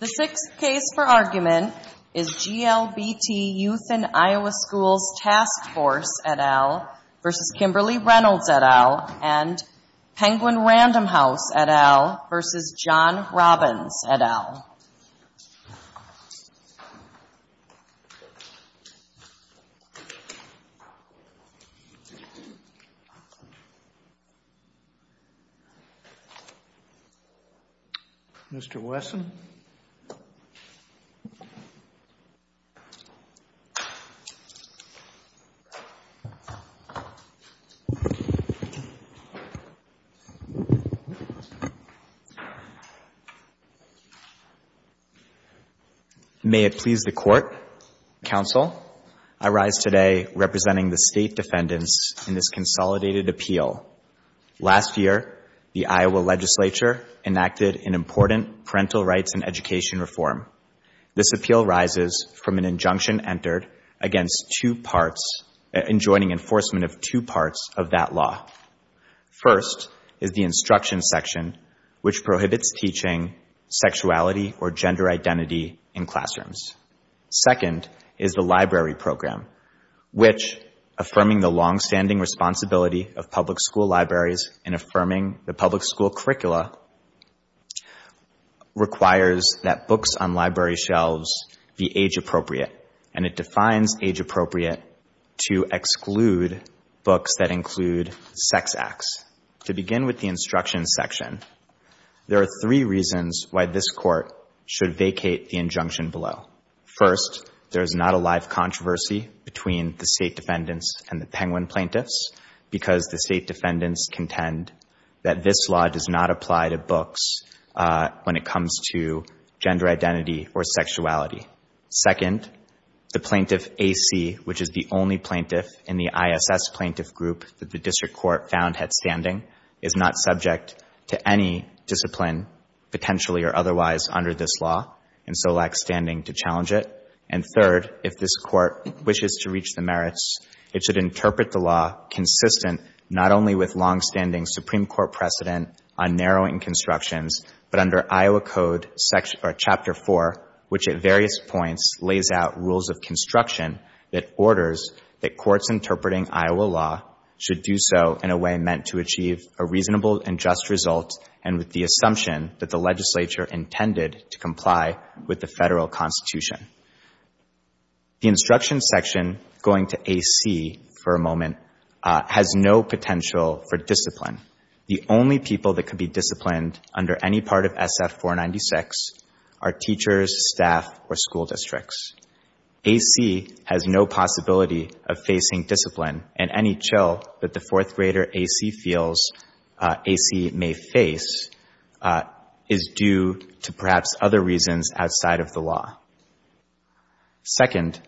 The sixth case for argument is GLBT Youth in Iowa Schools Task Force, et al. v. Kimberly Reynolds, et al. and Penguin Random House, et al. v. John Robbins, et al. Mr. Wesson May it please the Court, Counsel, I rise today representing the State Defendants in this consolidated appeal. Last year, the Iowa Legislature enacted an important parental rights and education reform. This appeal rises from an injunction entered in joining enforcement of two parts of that law. First is the instruction section, which prohibits teaching sexuality or gender identity in classrooms. Second is the library program, which, affirming the longstanding responsibility of public school libraries and affirming the public school curricula, requires that books on library shelves be age-appropriate. And it defines age-appropriate to exclude books that include sex acts. To begin with the instruction section, there are three reasons why this Court should vacate the injunction below. First, there is not a live controversy between the State Defendants and the Penguin Plaintiffs because the State Defendants contend that this law does not apply to books when it comes to gender identity or sexuality. Second, the Plaintiff A.C., which is the only plaintiff in the ISS plaintiff group that the District Court found had standing, is not subject to any discipline, potentially or otherwise, under this law and so lacks standing to challenge it. And third, if this Court wishes to reach the merits, it should interpret the law consistent not only with longstanding Supreme Court precedent on narrowing constructions, but under Iowa Code Chapter 4, which at various points lays out rules of construction that orders that courts interpreting Iowa law should do so in a way meant to achieve a reasonable and just result and with the assumption that the legislature intended to comply with the federal Constitution. The instruction section, going to A.C. for a moment, has no potential for discipline. The only people that could be disciplined under any part of SF-496 are teachers, staff, or school districts. A.C. has no possibility of facing discipline, and any chill that the fourth grader A.C. feels A.C. may face is due to perhaps other reasons outside of the law. Second,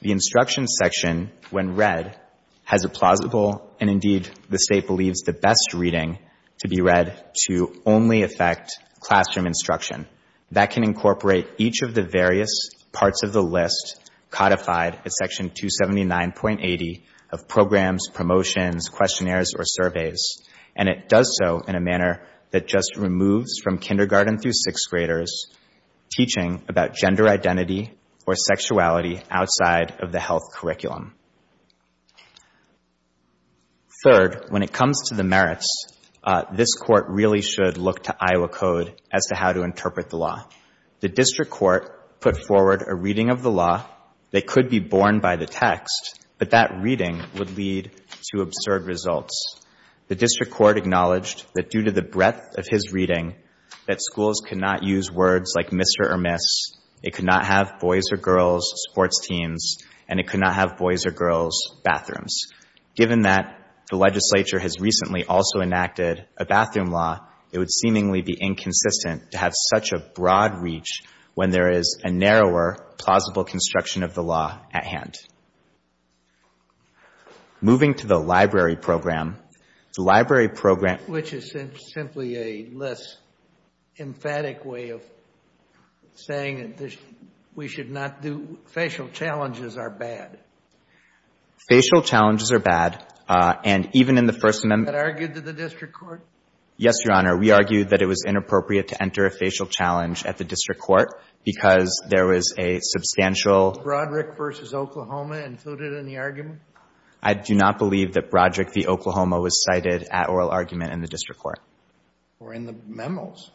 the instruction section, when read, has a plausible and indeed the State believes the best reading to be read to only affect classroom instruction. That can incorporate each of the various parts of the list codified at Section 279.80 of programs, promotions, questionnaires, or surveys. And it does so in a manner that just removes from kindergarten through sixth graders teaching about gender identity or sexuality outside of the health curriculum. Third, when it comes to the merits, this court really should look to Iowa Code as to how to interpret the law. The district court put forward a reading of the law that could be borne by the text, but that reading would lead to absurd results. The district court acknowledged that due to the breadth of his reading, that schools could not use words like Mr. or Miss, it could not have boys or girls sports teams, and it could not have boys or girls bathrooms. Given that the legislature has recently also enacted a bathroom law, it would seemingly be inconsistent to have such a broad reach when there is a narrower, plausible construction of the law at hand. Moving to the library program, the library program... Which is simply a less emphatic way of saying that we should not do... facial challenges are bad. Facial challenges are bad, and even in the First Amendment... That argued to the district court? Yes, Your Honor. We argued that it was inappropriate to enter a facial challenge at the district court because there was a substantial... I do not believe that Broderick v. Oklahoma was cited at oral argument in the district court. Or in the memos.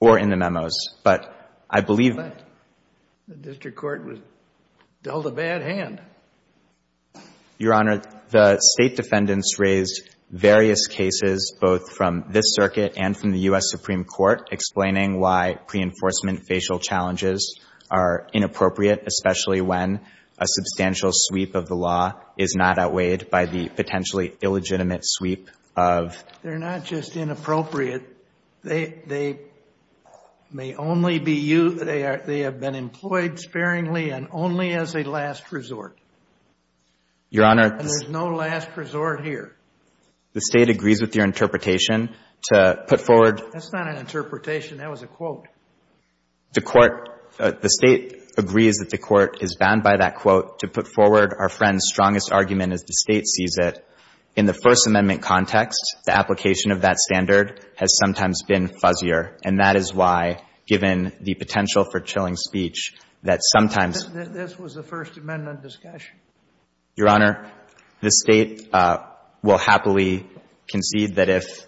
Or in the memos, but I believe... The district court was dealt a bad hand. Your Honor, the State defendants raised various cases, both from this circuit and from the U.S. Supreme Court, explaining why pre-enforcement facial challenges are inappropriate, especially when a substantial sweep of the law is not outweighed by the potentially illegitimate sweep of... They're not just inappropriate. They may only be used... They have been employed sparingly and only as a last resort. Your Honor... There's no last resort here. The State agrees with your interpretation to put forward... That's not an interpretation. That was a quote. The court... The State agrees that the court is bound by that quote to put forward our friend's strongest argument as the State sees it. In the First Amendment context, the application of that standard has sometimes been fuzzier, and that is why, given the potential for chilling speech, that sometimes... This was the First Amendment discussion. Your Honor, the State will happily concede that if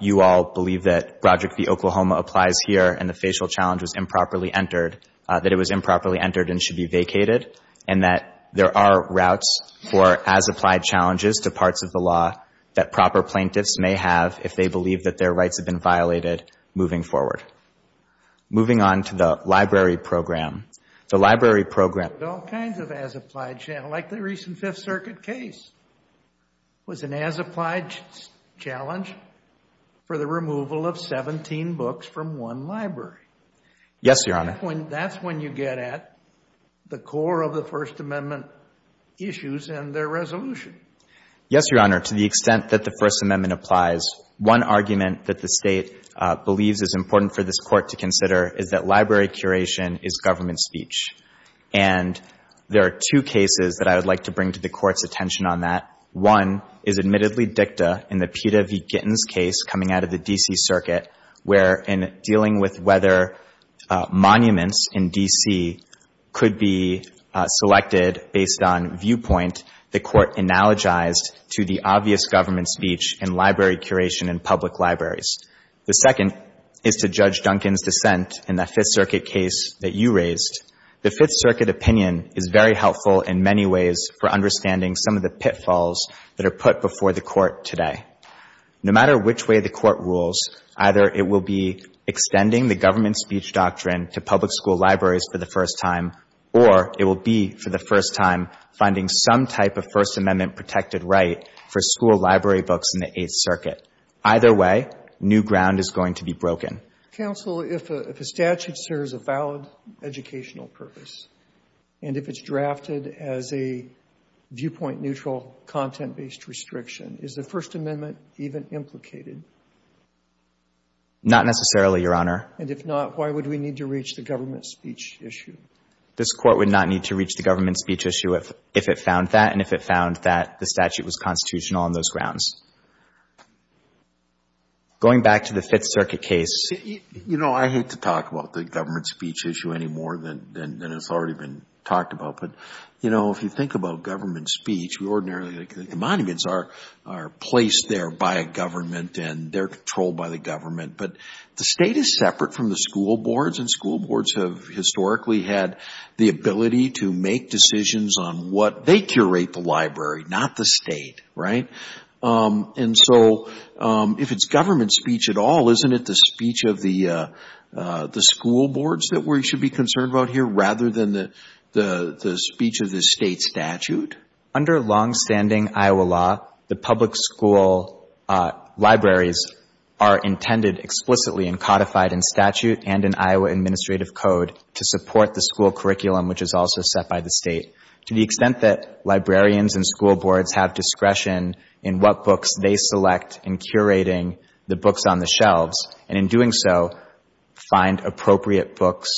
you all believe that Project V Oklahoma applies here and the facial challenge was improperly entered, that it was improperly entered and should be vacated, and that there are routes for as-applied challenges to parts of the law that proper plaintiffs may have if they believe that their rights have been violated moving forward. Moving on to the library program, the library program... There's all kinds of as-applied... Like the recent Fifth Circuit case was an as-applied challenge for the removal of 17 books from one library. Yes, Your Honor. That's when you get at the core of the First Amendment issues and their resolution. Yes, Your Honor. To the extent that the First Amendment applies, one argument that the State believes is important for this court to consider is that library curation is government speech, and there are two cases that I would like to bring to the Court's attention on that. One is admittedly dicta in the Peeta v. Gittins case coming out of the D.C. Circuit where in dealing with whether monuments in D.C. could be selected based on viewpoint, the Court analogized to the obvious government speech in library curation in public libraries. The second is to Judge Duncan's dissent in that Fifth Circuit case that you raised. The Fifth Circuit opinion is very helpful in many ways for understanding some of the pitfalls that are put before the Court today. No matter which way the Court rules, either it will be extending the government speech doctrine to public school libraries for the first time, or it will be for the first time finding some type of First Amendment-protected right for school library books in the Eighth Circuit. Either way, new ground is going to be broken. Robertson, if a statute serves a valid educational purpose, and if it's drafted as a viewpoint-neutral, content-based restriction, is the First Amendment even implicated? Not necessarily, Your Honor. And if not, why would we need to reach the government speech issue? This Court would not need to reach the government speech issue if it found that, and if it found that the statute was constitutional on those grounds. Going back to the Fifth Circuit case. You know, I hate to talk about the government speech issue any more than it's already been talked about. But, you know, if you think about government speech, ordinarily the monuments are placed there by a government and they're controlled by the government. But the State is separate from the school boards, and school boards have historically had the ability to make decisions on what they curate the library, not the State, right? And so if it's government speech at all, isn't it the speech of the school boards that we should be concerned about here rather than the speech of the State statute? Under longstanding Iowa law, the public school libraries are intended explicitly and codified in statute and in Iowa Administrative Code to support the school curriculum, which is also set by the State. To the extent that librarians and school boards have discretion in what books they select in curating the books on the shelves, and in doing so find appropriate books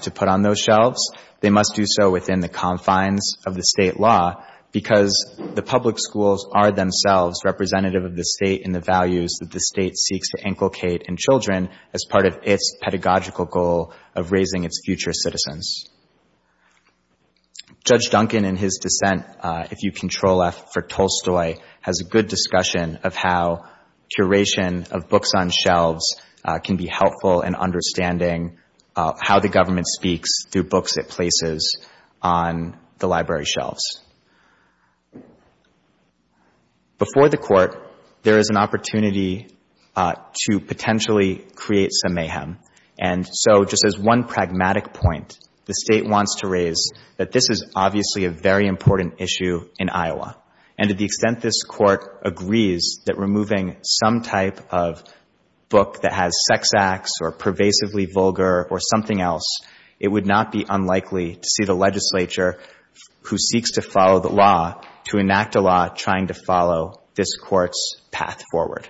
to put on those shelves, they must do so within the confines of the State law, because the public schools are themselves representative of the State and the values that the State seeks to inculcate in children as part of its pedagogical goal of raising its future citizens. Judge Duncan, in his dissent, if you control F for Tolstoy, has a good discussion of how curation of books on shelves can be helpful in understanding how the government speaks through books it places on the library shelves. Before the Court, there is an opportunity to potentially create some mayhem, and so just as one pragmatic point, the State wants to raise that this is obviously a very important issue in Iowa, and to the extent this Court agrees that removing some type of book that has sex acts or pervasively vulgar or something else, it would not be unlikely to see the legislature who seeks to follow the law to enact a law trying to follow this Court's path forward.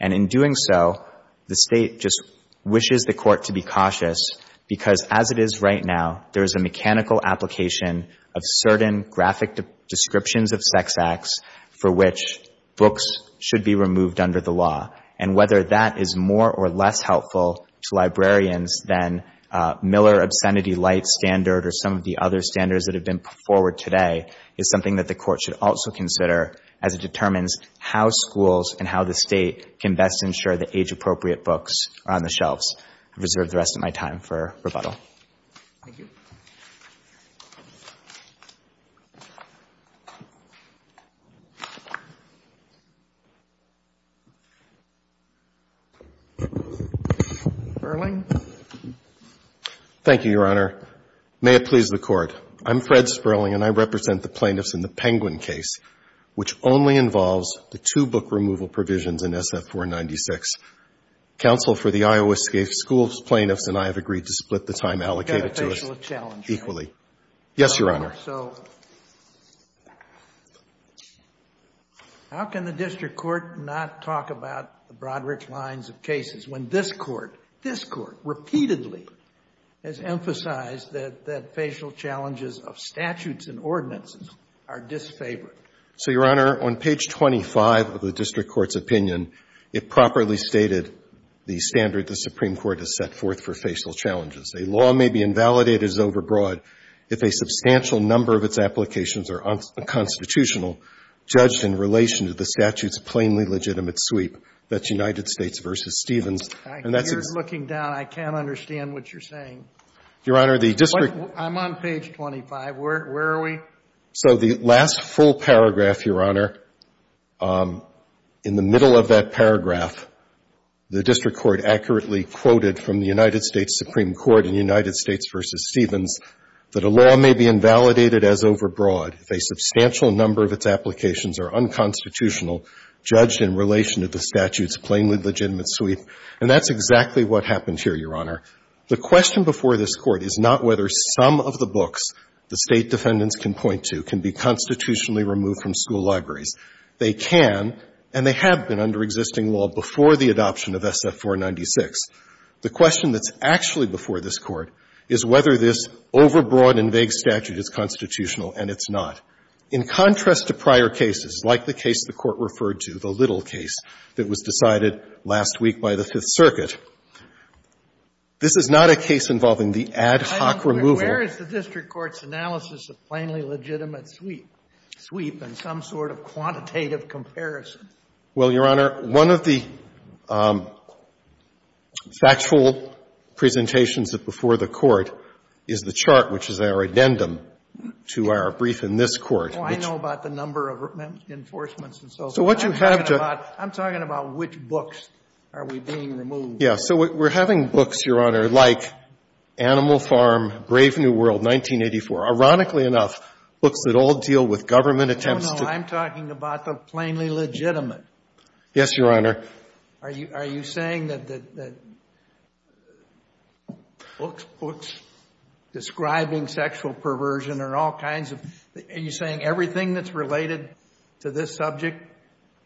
And in doing so, the State just wishes the Court to be cautious, because as it is right now, there is a mechanical application of certain graphic descriptions of sex acts for which books should be removed under the law, and whether that is more or less helpful to librarians than Miller obscenity light standard or some of the other standards that have been put forward today is something that the Court should also consider as it determines how schools and how the State can best ensure that age-appropriate books are on the shelves. I reserve the rest of my time for rebuttal. Thank you. Sperling. Thank you, Your Honor. May it please the Court. I'm Fred Sperling, and I represent the plaintiffs in the Penguin case, which only involves the two book removal provisions in SF-496. Counsel for the Iowa Schools Plaintiffs and I have agreed to split the time allocated to us equally. You've got a facial challenge, right? Yes, Your Honor. So how can the district court not talk about the Broadridge lines of cases when this Court, this Court repeatedly has emphasized that facial challenges of statutes and ordinances are disfavored? So, Your Honor, on page 25 of the district court's opinion, it properly stated the standard the Supreme Court has set forth for facial challenges. A law may be invalidated as overbroad if a substantial number of its applications are unconstitutional, judged in relation to the statute's plainly legitimate sweep. That's United States v. Stevens. You're looking down. I can't understand what you're saying. Your Honor, the district court — I'm on page 25. Where are we? So the last full paragraph, Your Honor, in the middle of that paragraph, the district court accurately quoted from the United States Supreme Court in United States v. Stevens that a law may be invalidated as overbroad if a substantial number of its applications are unconstitutional, judged in relation to the statute's plainly legitimate sweep. And that's exactly what happened here, Your Honor. The question before this Court is not whether some of the books the State defendants can point to can be constitutionally removed from school libraries. They can, and they have been under existing law before the adoption of SF-496. The question that's actually before this Court is whether this overbroad and vague statute is constitutional, and it's not. In contrast to prior cases, like the case the Court referred to, the Little case that was decided last week by the Fifth Circuit. This is not a case involving the ad hoc removal. Where is the district court's analysis of plainly legitimate sweep and some sort of quantitative comparison? Well, Your Honor, one of the factual presentations before the Court is the chart, which is our addendum to our brief in this Court, which — Well, I know about the number of enforcements and so forth. So what you have to — I'm talking about which books are we being removed. Yeah. So we're having books, Your Honor, like Animal Farm, Brave New World, 1984. Ironically enough, books that all deal with government attempts to — No, no. I'm talking about the plainly legitimate. Yes, Your Honor. Are you saying that books describing sexual perversion are all kinds of — are you saying everything that's related to this subject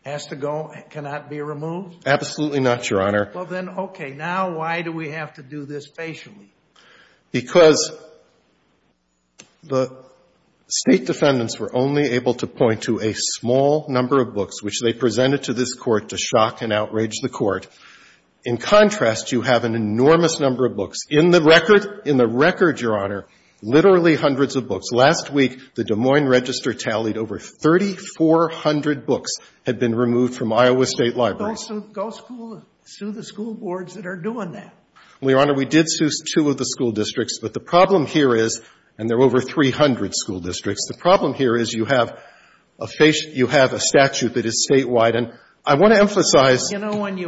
has to go — cannot be removed? Absolutely not, Your Honor. Well, then, okay. Now why do we have to do this facially? Because the State defendants were only able to point to a small number of books which they presented to this Court to shock and outrage the Court. In contrast, you have an enormous number of books. Last week, the Des Moines Register tallied over 3,400 books had been removed from Iowa State libraries. Go sue the school boards that are doing that. Well, Your Honor, we did sue two of the school districts. But the problem here is — and there were over 300 school districts. The problem here is you have a — you have a statute that is statewide. And I want to emphasize — You know, when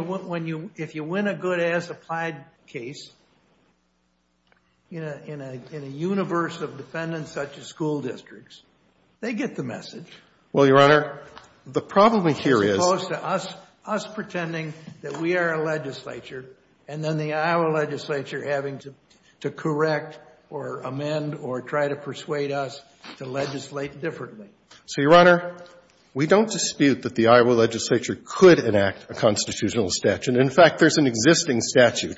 you — if you win a good-ass applied case in a universe of defendants such as school districts, they get the message. Well, Your Honor, the problem here is — As opposed to us pretending that we are a legislature, and then the Iowa legislature having to correct or amend or try to persuade us to legislate differently. So, Your Honor, we don't dispute that the Iowa legislature could enact a constitutional statute. And, in fact, there's an existing statute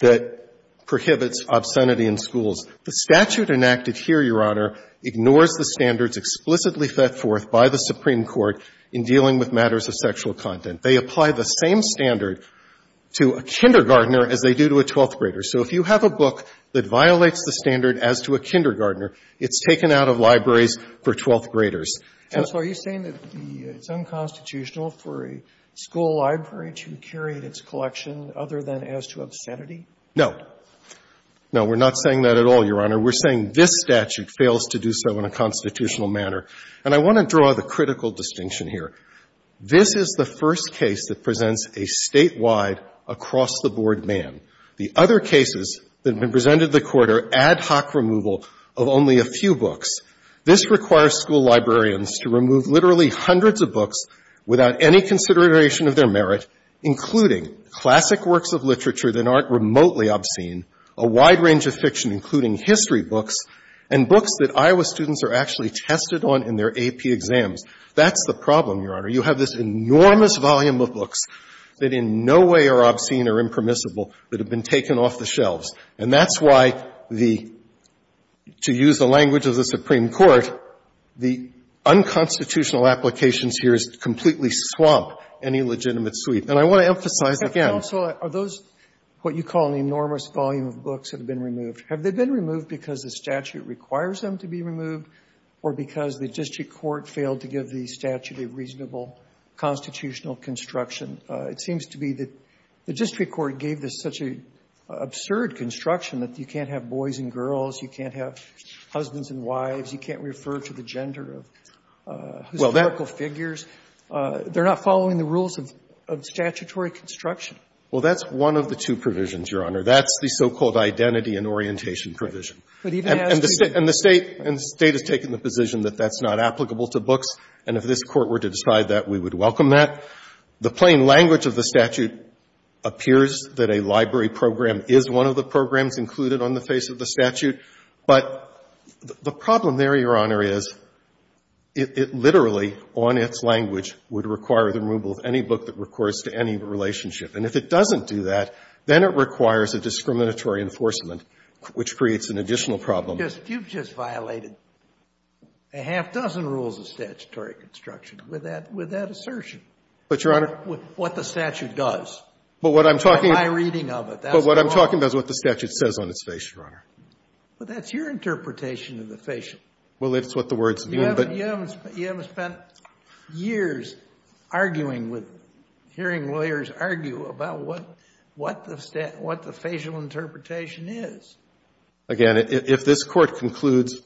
that prohibits obscenity in schools. The statute enacted here, Your Honor, ignores the standards explicitly set forth by the Supreme Court in dealing with matters of sexual content. They apply the same standard to a kindergartner as they do to a twelfth grader. So if you have a book that violates the standard as to a kindergartner, it's taken out of libraries for twelfth graders. And so are you saying that it's unconstitutional for a school library to carry its collection other than as to obscenity? No. No, we're not saying that at all, Your Honor. We're saying this statute fails to do so in a constitutional manner. And I want to draw the critical distinction here. This is the first case that presents a statewide, across-the-board man. The other cases that have been presented to the Court are ad hoc removal of only a few books. This requires school librarians to remove literally hundreds of books without any consideration of their merit, including classic works of literature that aren't remotely obscene, a wide range of fiction, including history books, and books that Iowa students are actually tested on in their AP exams. That's the problem, Your Honor. You have this enormous volume of books that in no way are obscene or impermissible that have been taken off the shelves. And that's why the — to use the language of the Supreme Court, the unconstitutional applications here is to completely swamp any legitimate suite. And I want to emphasize again — But, Counselor, are those what you call an enormous volume of books that have been removed, have they been removed because the statute requires them to be removed or because the district court failed to give the statute a reasonable constitutional construction? It seems to be that the district court gave this such an absurd construction that you can't have boys and girls, you can't have husbands and wives, you can't refer to the gender of historical figures. They're not following the rules of statutory construction. Well, that's one of the two provisions, Your Honor. That's the so-called identity and orientation provision. And the State has taken the position that that's not applicable to books, and if this appears that a library program is one of the programs included on the face of the statute, but the problem there, Your Honor, is it literally, on its language, would require the removal of any book that records to any relationship. And if it doesn't do that, then it requires a discriminatory enforcement, which creates an additional problem. You've just violated a half-dozen rules of statutory construction with that assertion. But, Your Honor — But that's what the statute does. But what I'm talking about — By reading of it. But what I'm talking about is what the statute says on its face, Your Honor. But that's your interpretation of the facial. Well, it's what the words mean, but — You haven't spent years arguing with — hearing lawyers argue about what the facial interpretation is. Again, if this Court concludes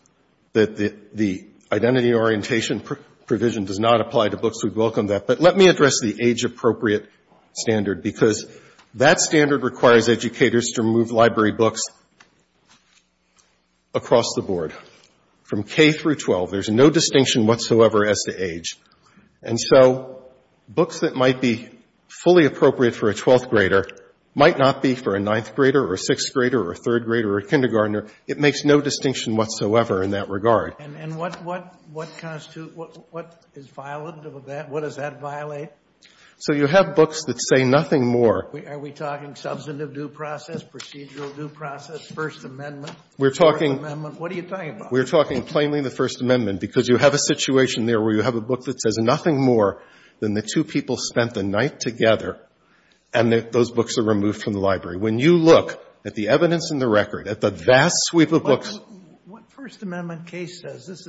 that the identity orientation provision does not apply to books, we'd welcome that. But let me address the age-appropriate standard, because that standard requires educators to remove library books across the board, from K through 12. There's no distinction whatsoever as to age. And so books that might be fully appropriate for a 12th grader might not be for a 9th grader or a 6th grader or a 3rd grader or a kindergartner. It makes no distinction whatsoever in that regard. And what constitutes — what is violative of that? What does that violate? So you have books that say nothing more. Are we talking substantive due process, procedural due process, First Amendment, Fourth Amendment? What are you talking about? We're talking plainly the First Amendment, because you have a situation there where you have a book that says nothing more than the two people spent the night together and those books are removed from the library. When you look at the evidence in the record, at the vast sweep of books — Well, what First Amendment case says? This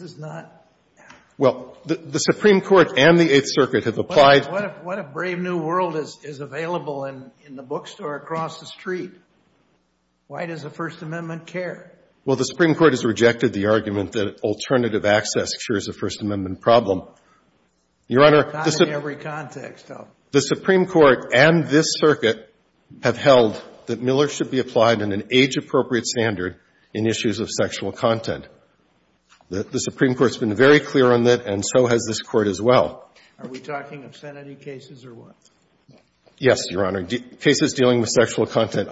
is not — Well, the Supreme Court and the Eighth Circuit have applied — What if Brave New World is available in the bookstore across the street? Why does the First Amendment care? Well, the Supreme Court has rejected the argument that alternative access cures a First Amendment problem. Your Honor — Not in every context, though. The Supreme Court and this circuit have held that Miller should be applied in an age-appropriate standard in issues of sexual content. The Supreme Court has been very clear on that and so has this Court as well. Are we talking obscenity cases or what? Yes, Your Honor. Cases dealing with sexual content.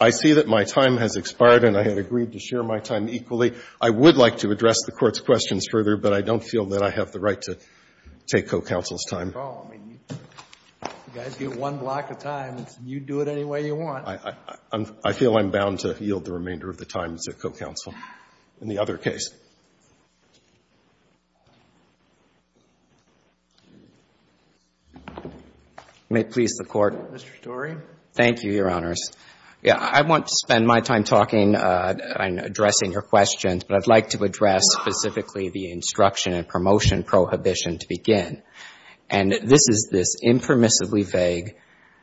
I see that my time has expired and I have agreed to share my time equally. I would like to address the Court's questions further, but I don't feel that I have the right to take co-counsel's time. You guys get one block of time. You do it any way you want. I feel I'm bound to yield the remainder of the time as a co-counsel in the other case. May it please the Court. Mr. Storey. Thank you, Your Honors. I want to spend my time talking and addressing your questions, but I'd like to address specifically the instruction and promotion prohibition to begin. And this is this impermissibly vague,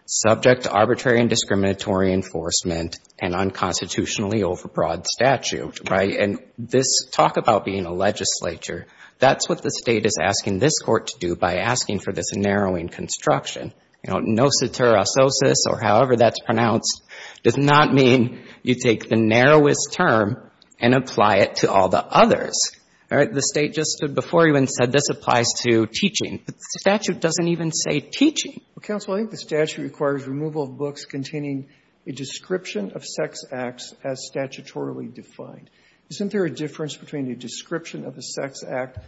subject to arbitrary and discriminatory enforcement and unconstitutionally overbroad statute, right? And this talk about being a legislature, that's what the State is asking this Court to do by asking for this narrowing construction. You know, nociterososis or however that's pronounced does not mean you take the narrowest term and apply it to all the others. All right? The State just before even said this applies to teaching, but the statute doesn't even say teaching. Counsel, I think the statute requires removal of books containing a description of sex acts as statutorily defined. Isn't there a difference between a description of a sex act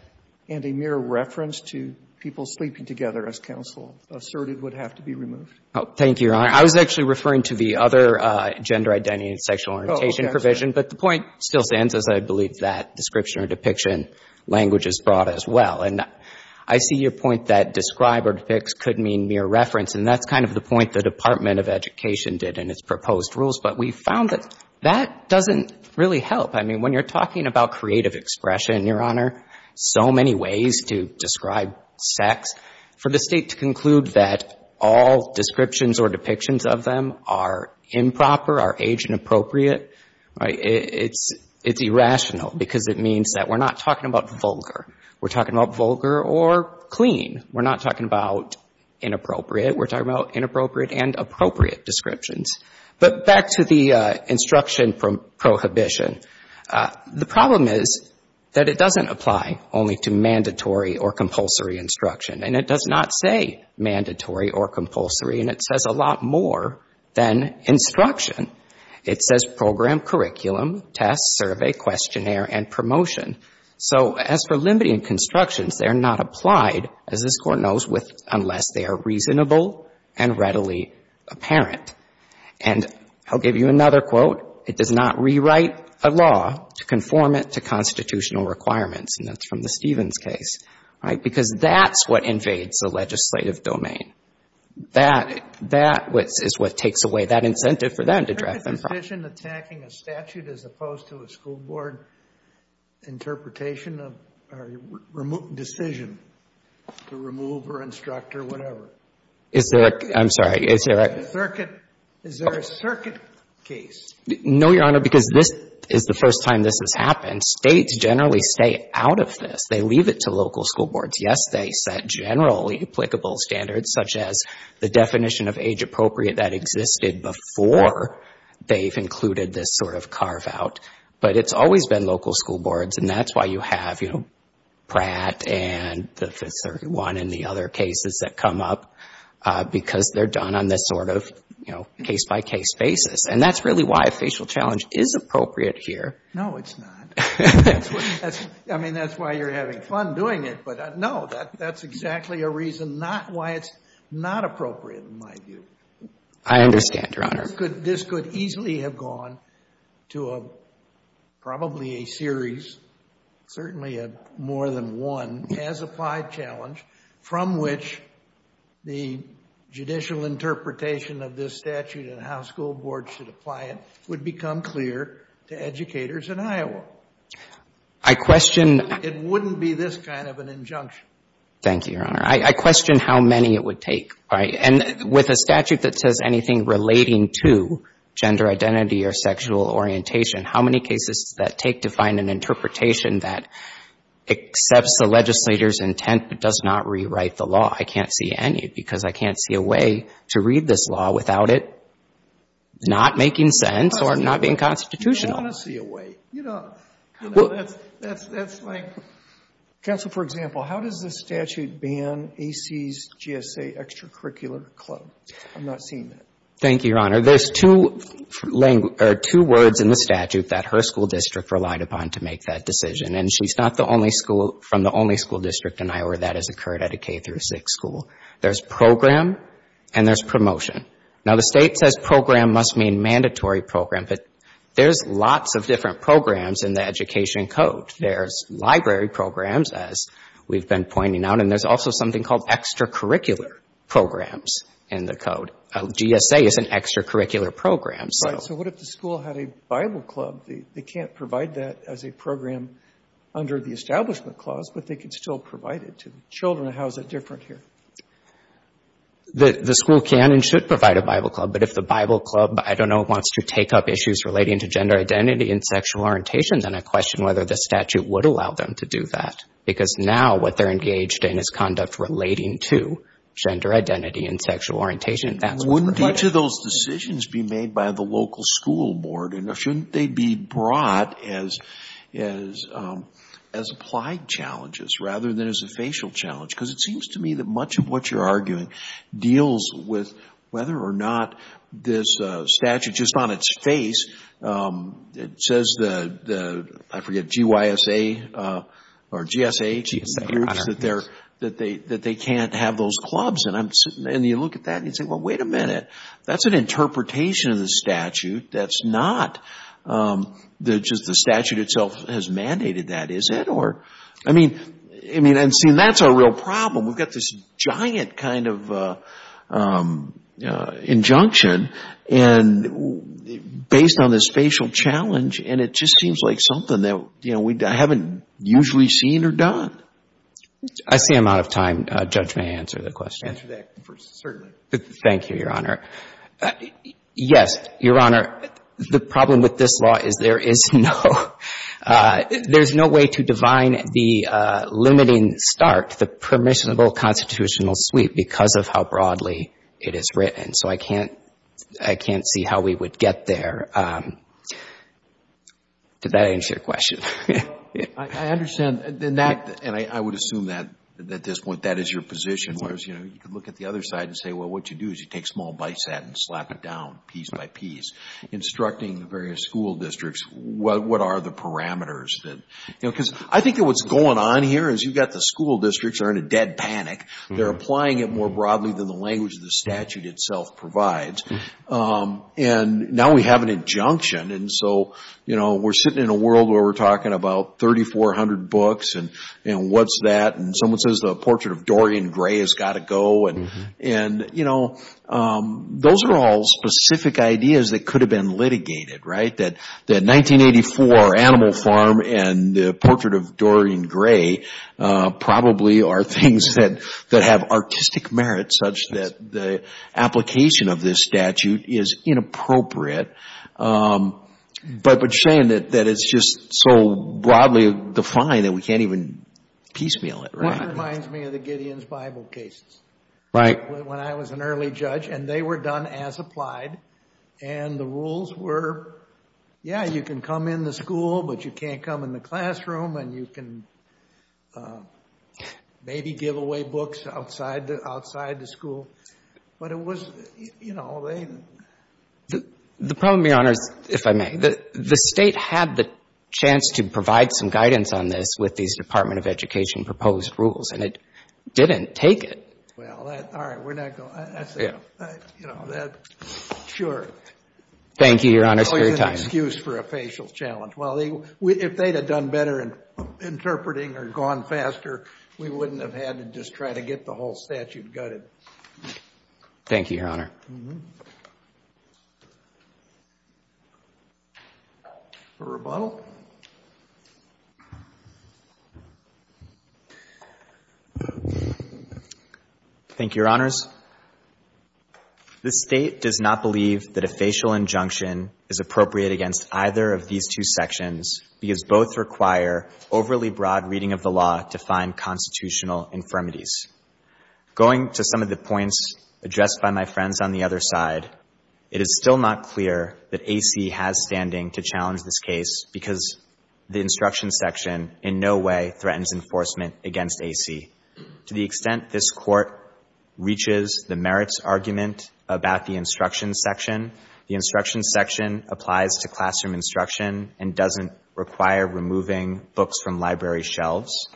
and a mere reference to people sleeping together, as counsel asserted, would have to be removed? Thank you, Your Honor. I was actually referring to the other gender identity and sexual orientation provision, but the point still stands as I believe that description or depiction language is brought as well. And I see your point that describe or depicts could mean mere reference, and that's kind of the point the Department of Education did in its proposed rules. But we found that that doesn't really help. I mean, when you're talking about creative expression, Your Honor, so many ways to describe sex, for the State to conclude that all descriptions or depictions of them are improper, are age-inappropriate, right, it's irrational because it means that we're not talking about vulgar. We're talking about vulgar or clean. We're not talking about inappropriate. We're talking about inappropriate and appropriate descriptions. But back to the instruction prohibition. The problem is that it doesn't apply only to mandatory or compulsory instruction, and it does not say mandatory or compulsory, and it says a lot more than instruction. It says program, curriculum, test, survey, questionnaire, and promotion. So as for limiting constructions, they are not applied, as this Court knows, unless they are reasonable and readily apparent. And I'll give you another quote. It does not rewrite a law to conform it to constitutional requirements, and that's from the Stevens case. All right? Because that's what invades the legislative domain. That is what takes away that incentive for them to draft them. Is there a decision attacking a statute as opposed to a school board interpretation or decision to remove or instruct or whatever? I'm sorry. Is there a circuit case? No, Your Honor, because this is the first time this has happened. States generally stay out of this. They leave it to local school boards. Yes, they set generally applicable standards, such as the definition of age appropriate that existed before they've included this sort of carve-out. But it's always been local school boards, and that's why you have, you know, Pratt and the Fifth Circuit one and the other cases that come up, because they're done on this sort of, you know, case-by-case basis. And that's really why a facial challenge is appropriate here. No, it's not. I mean, that's why you're having fun doing it. But, no, that's exactly a reason not why it's not appropriate, in my view. I understand, Your Honor. This could easily have gone to probably a series, certainly more than one, as-applied challenge from which the judicial interpretation of this statute and how school boards should apply it would become clear to educators in Iowa. It wouldn't be this kind of an injunction. Thank you, Your Honor. I question how many it would take. And with a statute that says anything relating to gender identity or sexual orientation, how many cases does that take to find an interpretation that accepts the legislator's intent but does not rewrite the law? I can't see any, because I can't see a way to read this law without it not making sense or not being constitutional. You don't want to see a way. You don't. That's like, counsel, for example, how does this statute ban AC's GSA extracurricular club? I'm not seeing that. Thank you, Your Honor. There's two words in the statute that her school district relied upon to make that decision. And she's not the only school from the only school district in Iowa that has occurred at a K-6 school. There's program and there's promotion. Now, the State says program must mean mandatory program, but there's lots of different programs in the Education Code. There's library programs, as we've been pointing out, and there's also something called extracurricular programs in the Code. GSA is an extracurricular program. So what if the school had a Bible club? They can't provide that as a program under the Establishment Clause, but they can still provide it to children. How is that different here? The school can and should provide a Bible club, but if the Bible club, I don't know, wants to take up issues relating to gender identity and sexual orientation, then I question whether the statute would allow them to do that, because now what they're engaged in is conduct relating to gender identity and sexual orientation. Wouldn't each of those decisions be made by the local school board, and shouldn't they be brought as applied challenges rather than as a facial challenge? Because it seems to me that much of what you're arguing deals with whether or not this statute, just on its face, it says the, I forget, G-Y-S-A, or GSA, that they can't have those clubs. You look at that and you say, well, wait a minute. That's an interpretation of the statute. That's not just the statute itself has mandated that, is it? I mean, that's a real problem. We've got this giant kind of injunction based on this facial challenge, and it just seems like something that we haven't usually seen or done. I see I'm out of time. Judge, may I answer the question? Answer that first, certainly. Thank you, Your Honor. Yes. Your Honor, the problem with this law is there is no way to divine the limiting start, the permissible constitutional sweep, because of how broadly it is written. So I can't see how we would get there. Did that answer your question? I understand, and I would assume that, at this point, that is your position. Whereas, you could look at the other side and say, well, what you do is you take small bites at it and slap it down piece by piece, instructing the various school districts what are the parameters. Because I think that what's going on here is you've got the school districts are in a dead panic. They're applying it more broadly than the language of the statute itself provides. And now we have an injunction, and so we're sitting in a world where we're talking about 3,400 books, and what's that? And someone says the Portrait of Dorian Gray has got to go. And those are all specific ideas that could have been litigated, right? That 1984 Animal Farm and the Portrait of Dorian Gray probably are things that have artistic merit, such that the application of this statute is inappropriate. But Shane, that it's just so broadly defined that we can't even piecemeal it, right? Well, it reminds me of the Gideon's Bible cases. Right. When I was an early judge, and they were done as applied, and the rules were, yeah, you can come in the school, but you can't come in the classroom, and you can maybe give away books outside the school. But it was, you know, they... The problem, Your Honor, is, if I may, the State had the chance to provide some guidance on this with these Department of Education proposed rules, and it didn't take it. Well, all right. We're not going to... Yeah. You know, that... Sure. Thank you, Your Honor, for your time. It's an excuse for a facial challenge. Well, if they'd have done better in interpreting or gone faster, we wouldn't have had to just try to get the whole statute gutted. Thank you, Your Honor. For rebuttal. Thank you, Your Honors. This State does not believe that a facial injunction is appropriate against either of these two sections because both require overly broad reading of the law to find constitutional infirmities. Going to some of the points addressed by my friends on the other side, it is still not clear that AC has standing to challenge this case because the instruction section in no way threatens enforcement against AC. To the extent this Court reaches the merits argument about the instruction section, the instruction section applies to classroom instruction and doesn't require removing books from library shelves.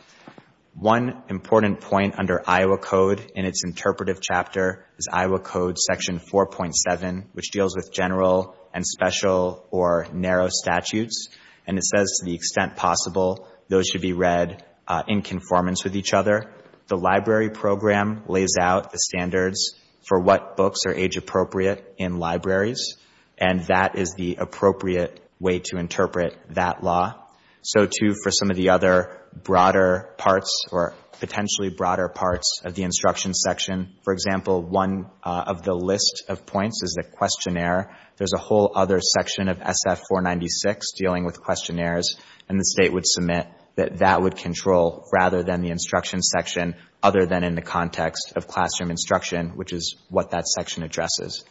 One important point under Iowa Code in its interpretive chapter is Iowa Code Section 4.7, which deals with general and special or narrow statutes, and it says to the extent possible those should be read in conformance with each other. The library program lays out the standards for what books are age-appropriate in libraries, and that is the appropriate way to interpret that law. So, too, for some of the other broader parts, or potentially broader parts of the instruction section, for example, one of the list of points is the questionnaire. There's a whole other section of SF-496 dealing with questionnaires, and the State would submit that that would control rather than the instruction section other than in the context of classroom instruction, which is what that section addresses.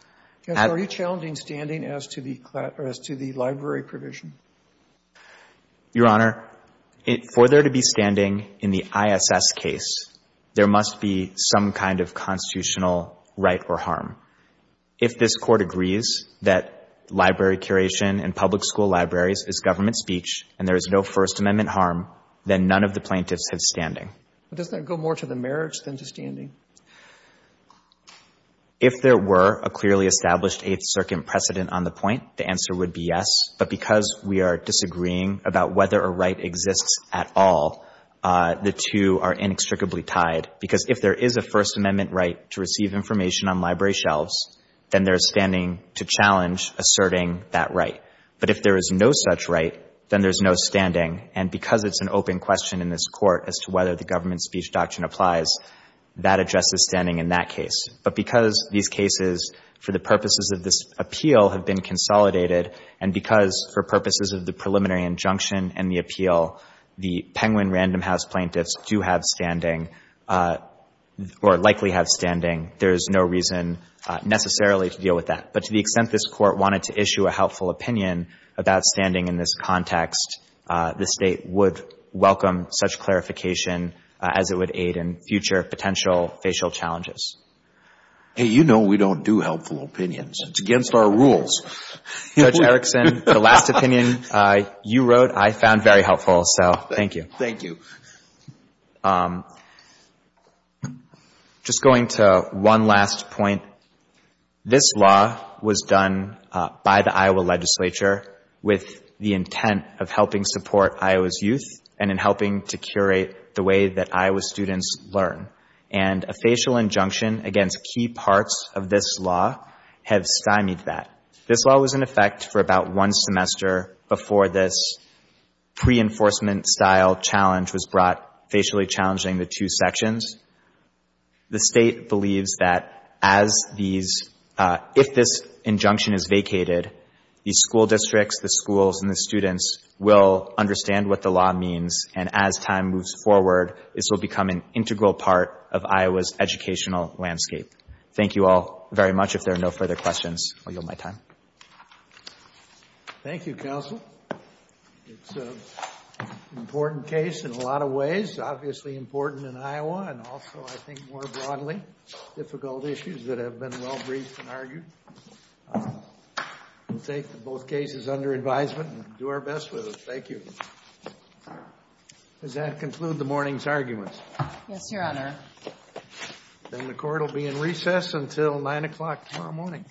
Robertson, are you challenging standing as to the library provision? Your Honor, for there to be standing in the ISS case, there must be some kind of constitutional right or harm. If this Court agrees that library curation and public school libraries is government speech and there is no First Amendment harm, then none of the plaintiffs have standing. But doesn't that go more to the merits than to standing? If there were a clearly established Eighth Circuit precedent on the point, the answer would be yes. But because we are disagreeing about whether a right exists at all, the two are inextricably tied. Because if there is a First Amendment right to receive information on library shelves, then there is standing to challenge asserting that right. But if there is no such right, then there is no standing. And because it's an open question in this Court as to whether the government speech doctrine applies, that addresses standing in that case. But because these cases, for the purposes of this appeal, have been consolidated, and because for purposes of the preliminary injunction and the appeal, the Penguin Random House plaintiffs do have standing or likely have standing, there is no reason necessarily to deal with that. But to the extent this Court wanted to issue a helpful opinion about standing in this context, the State would welcome such clarification, as it would aid in future potential facial challenges. Hey, you know we don't do helpful opinions. It's against our rules. Judge Erickson, the last opinion you wrote I found very helpful. So thank you. Thank you. Just going to one last point. This law was done by the Iowa legislature with the intent of helping support Iowa's youth and in helping to curate the way that Iowa students learn. And a facial injunction against key parts of this law have stymied that. This law was in effect for about one semester before this pre-enforcement-style challenge was brought, facially challenging the two sections. The State believes that as these, if this injunction is vacated, the school districts, the schools and the students will understand what the law means and as time moves forward, this will become an integral part of Iowa's educational landscape. Thank you all very much. If there are no further questions, I'll yield my time. Thank you, counsel. It's an important case in a lot of ways. Obviously important in Iowa and also I think more broadly difficult issues that have been well-briefed and argued. We'll take both cases under advisement and do our best with it. Thank you. Does that conclude the morning's arguments? Yes, Your Honor. Then the court will be in recess until 9 o'clock tomorrow morning.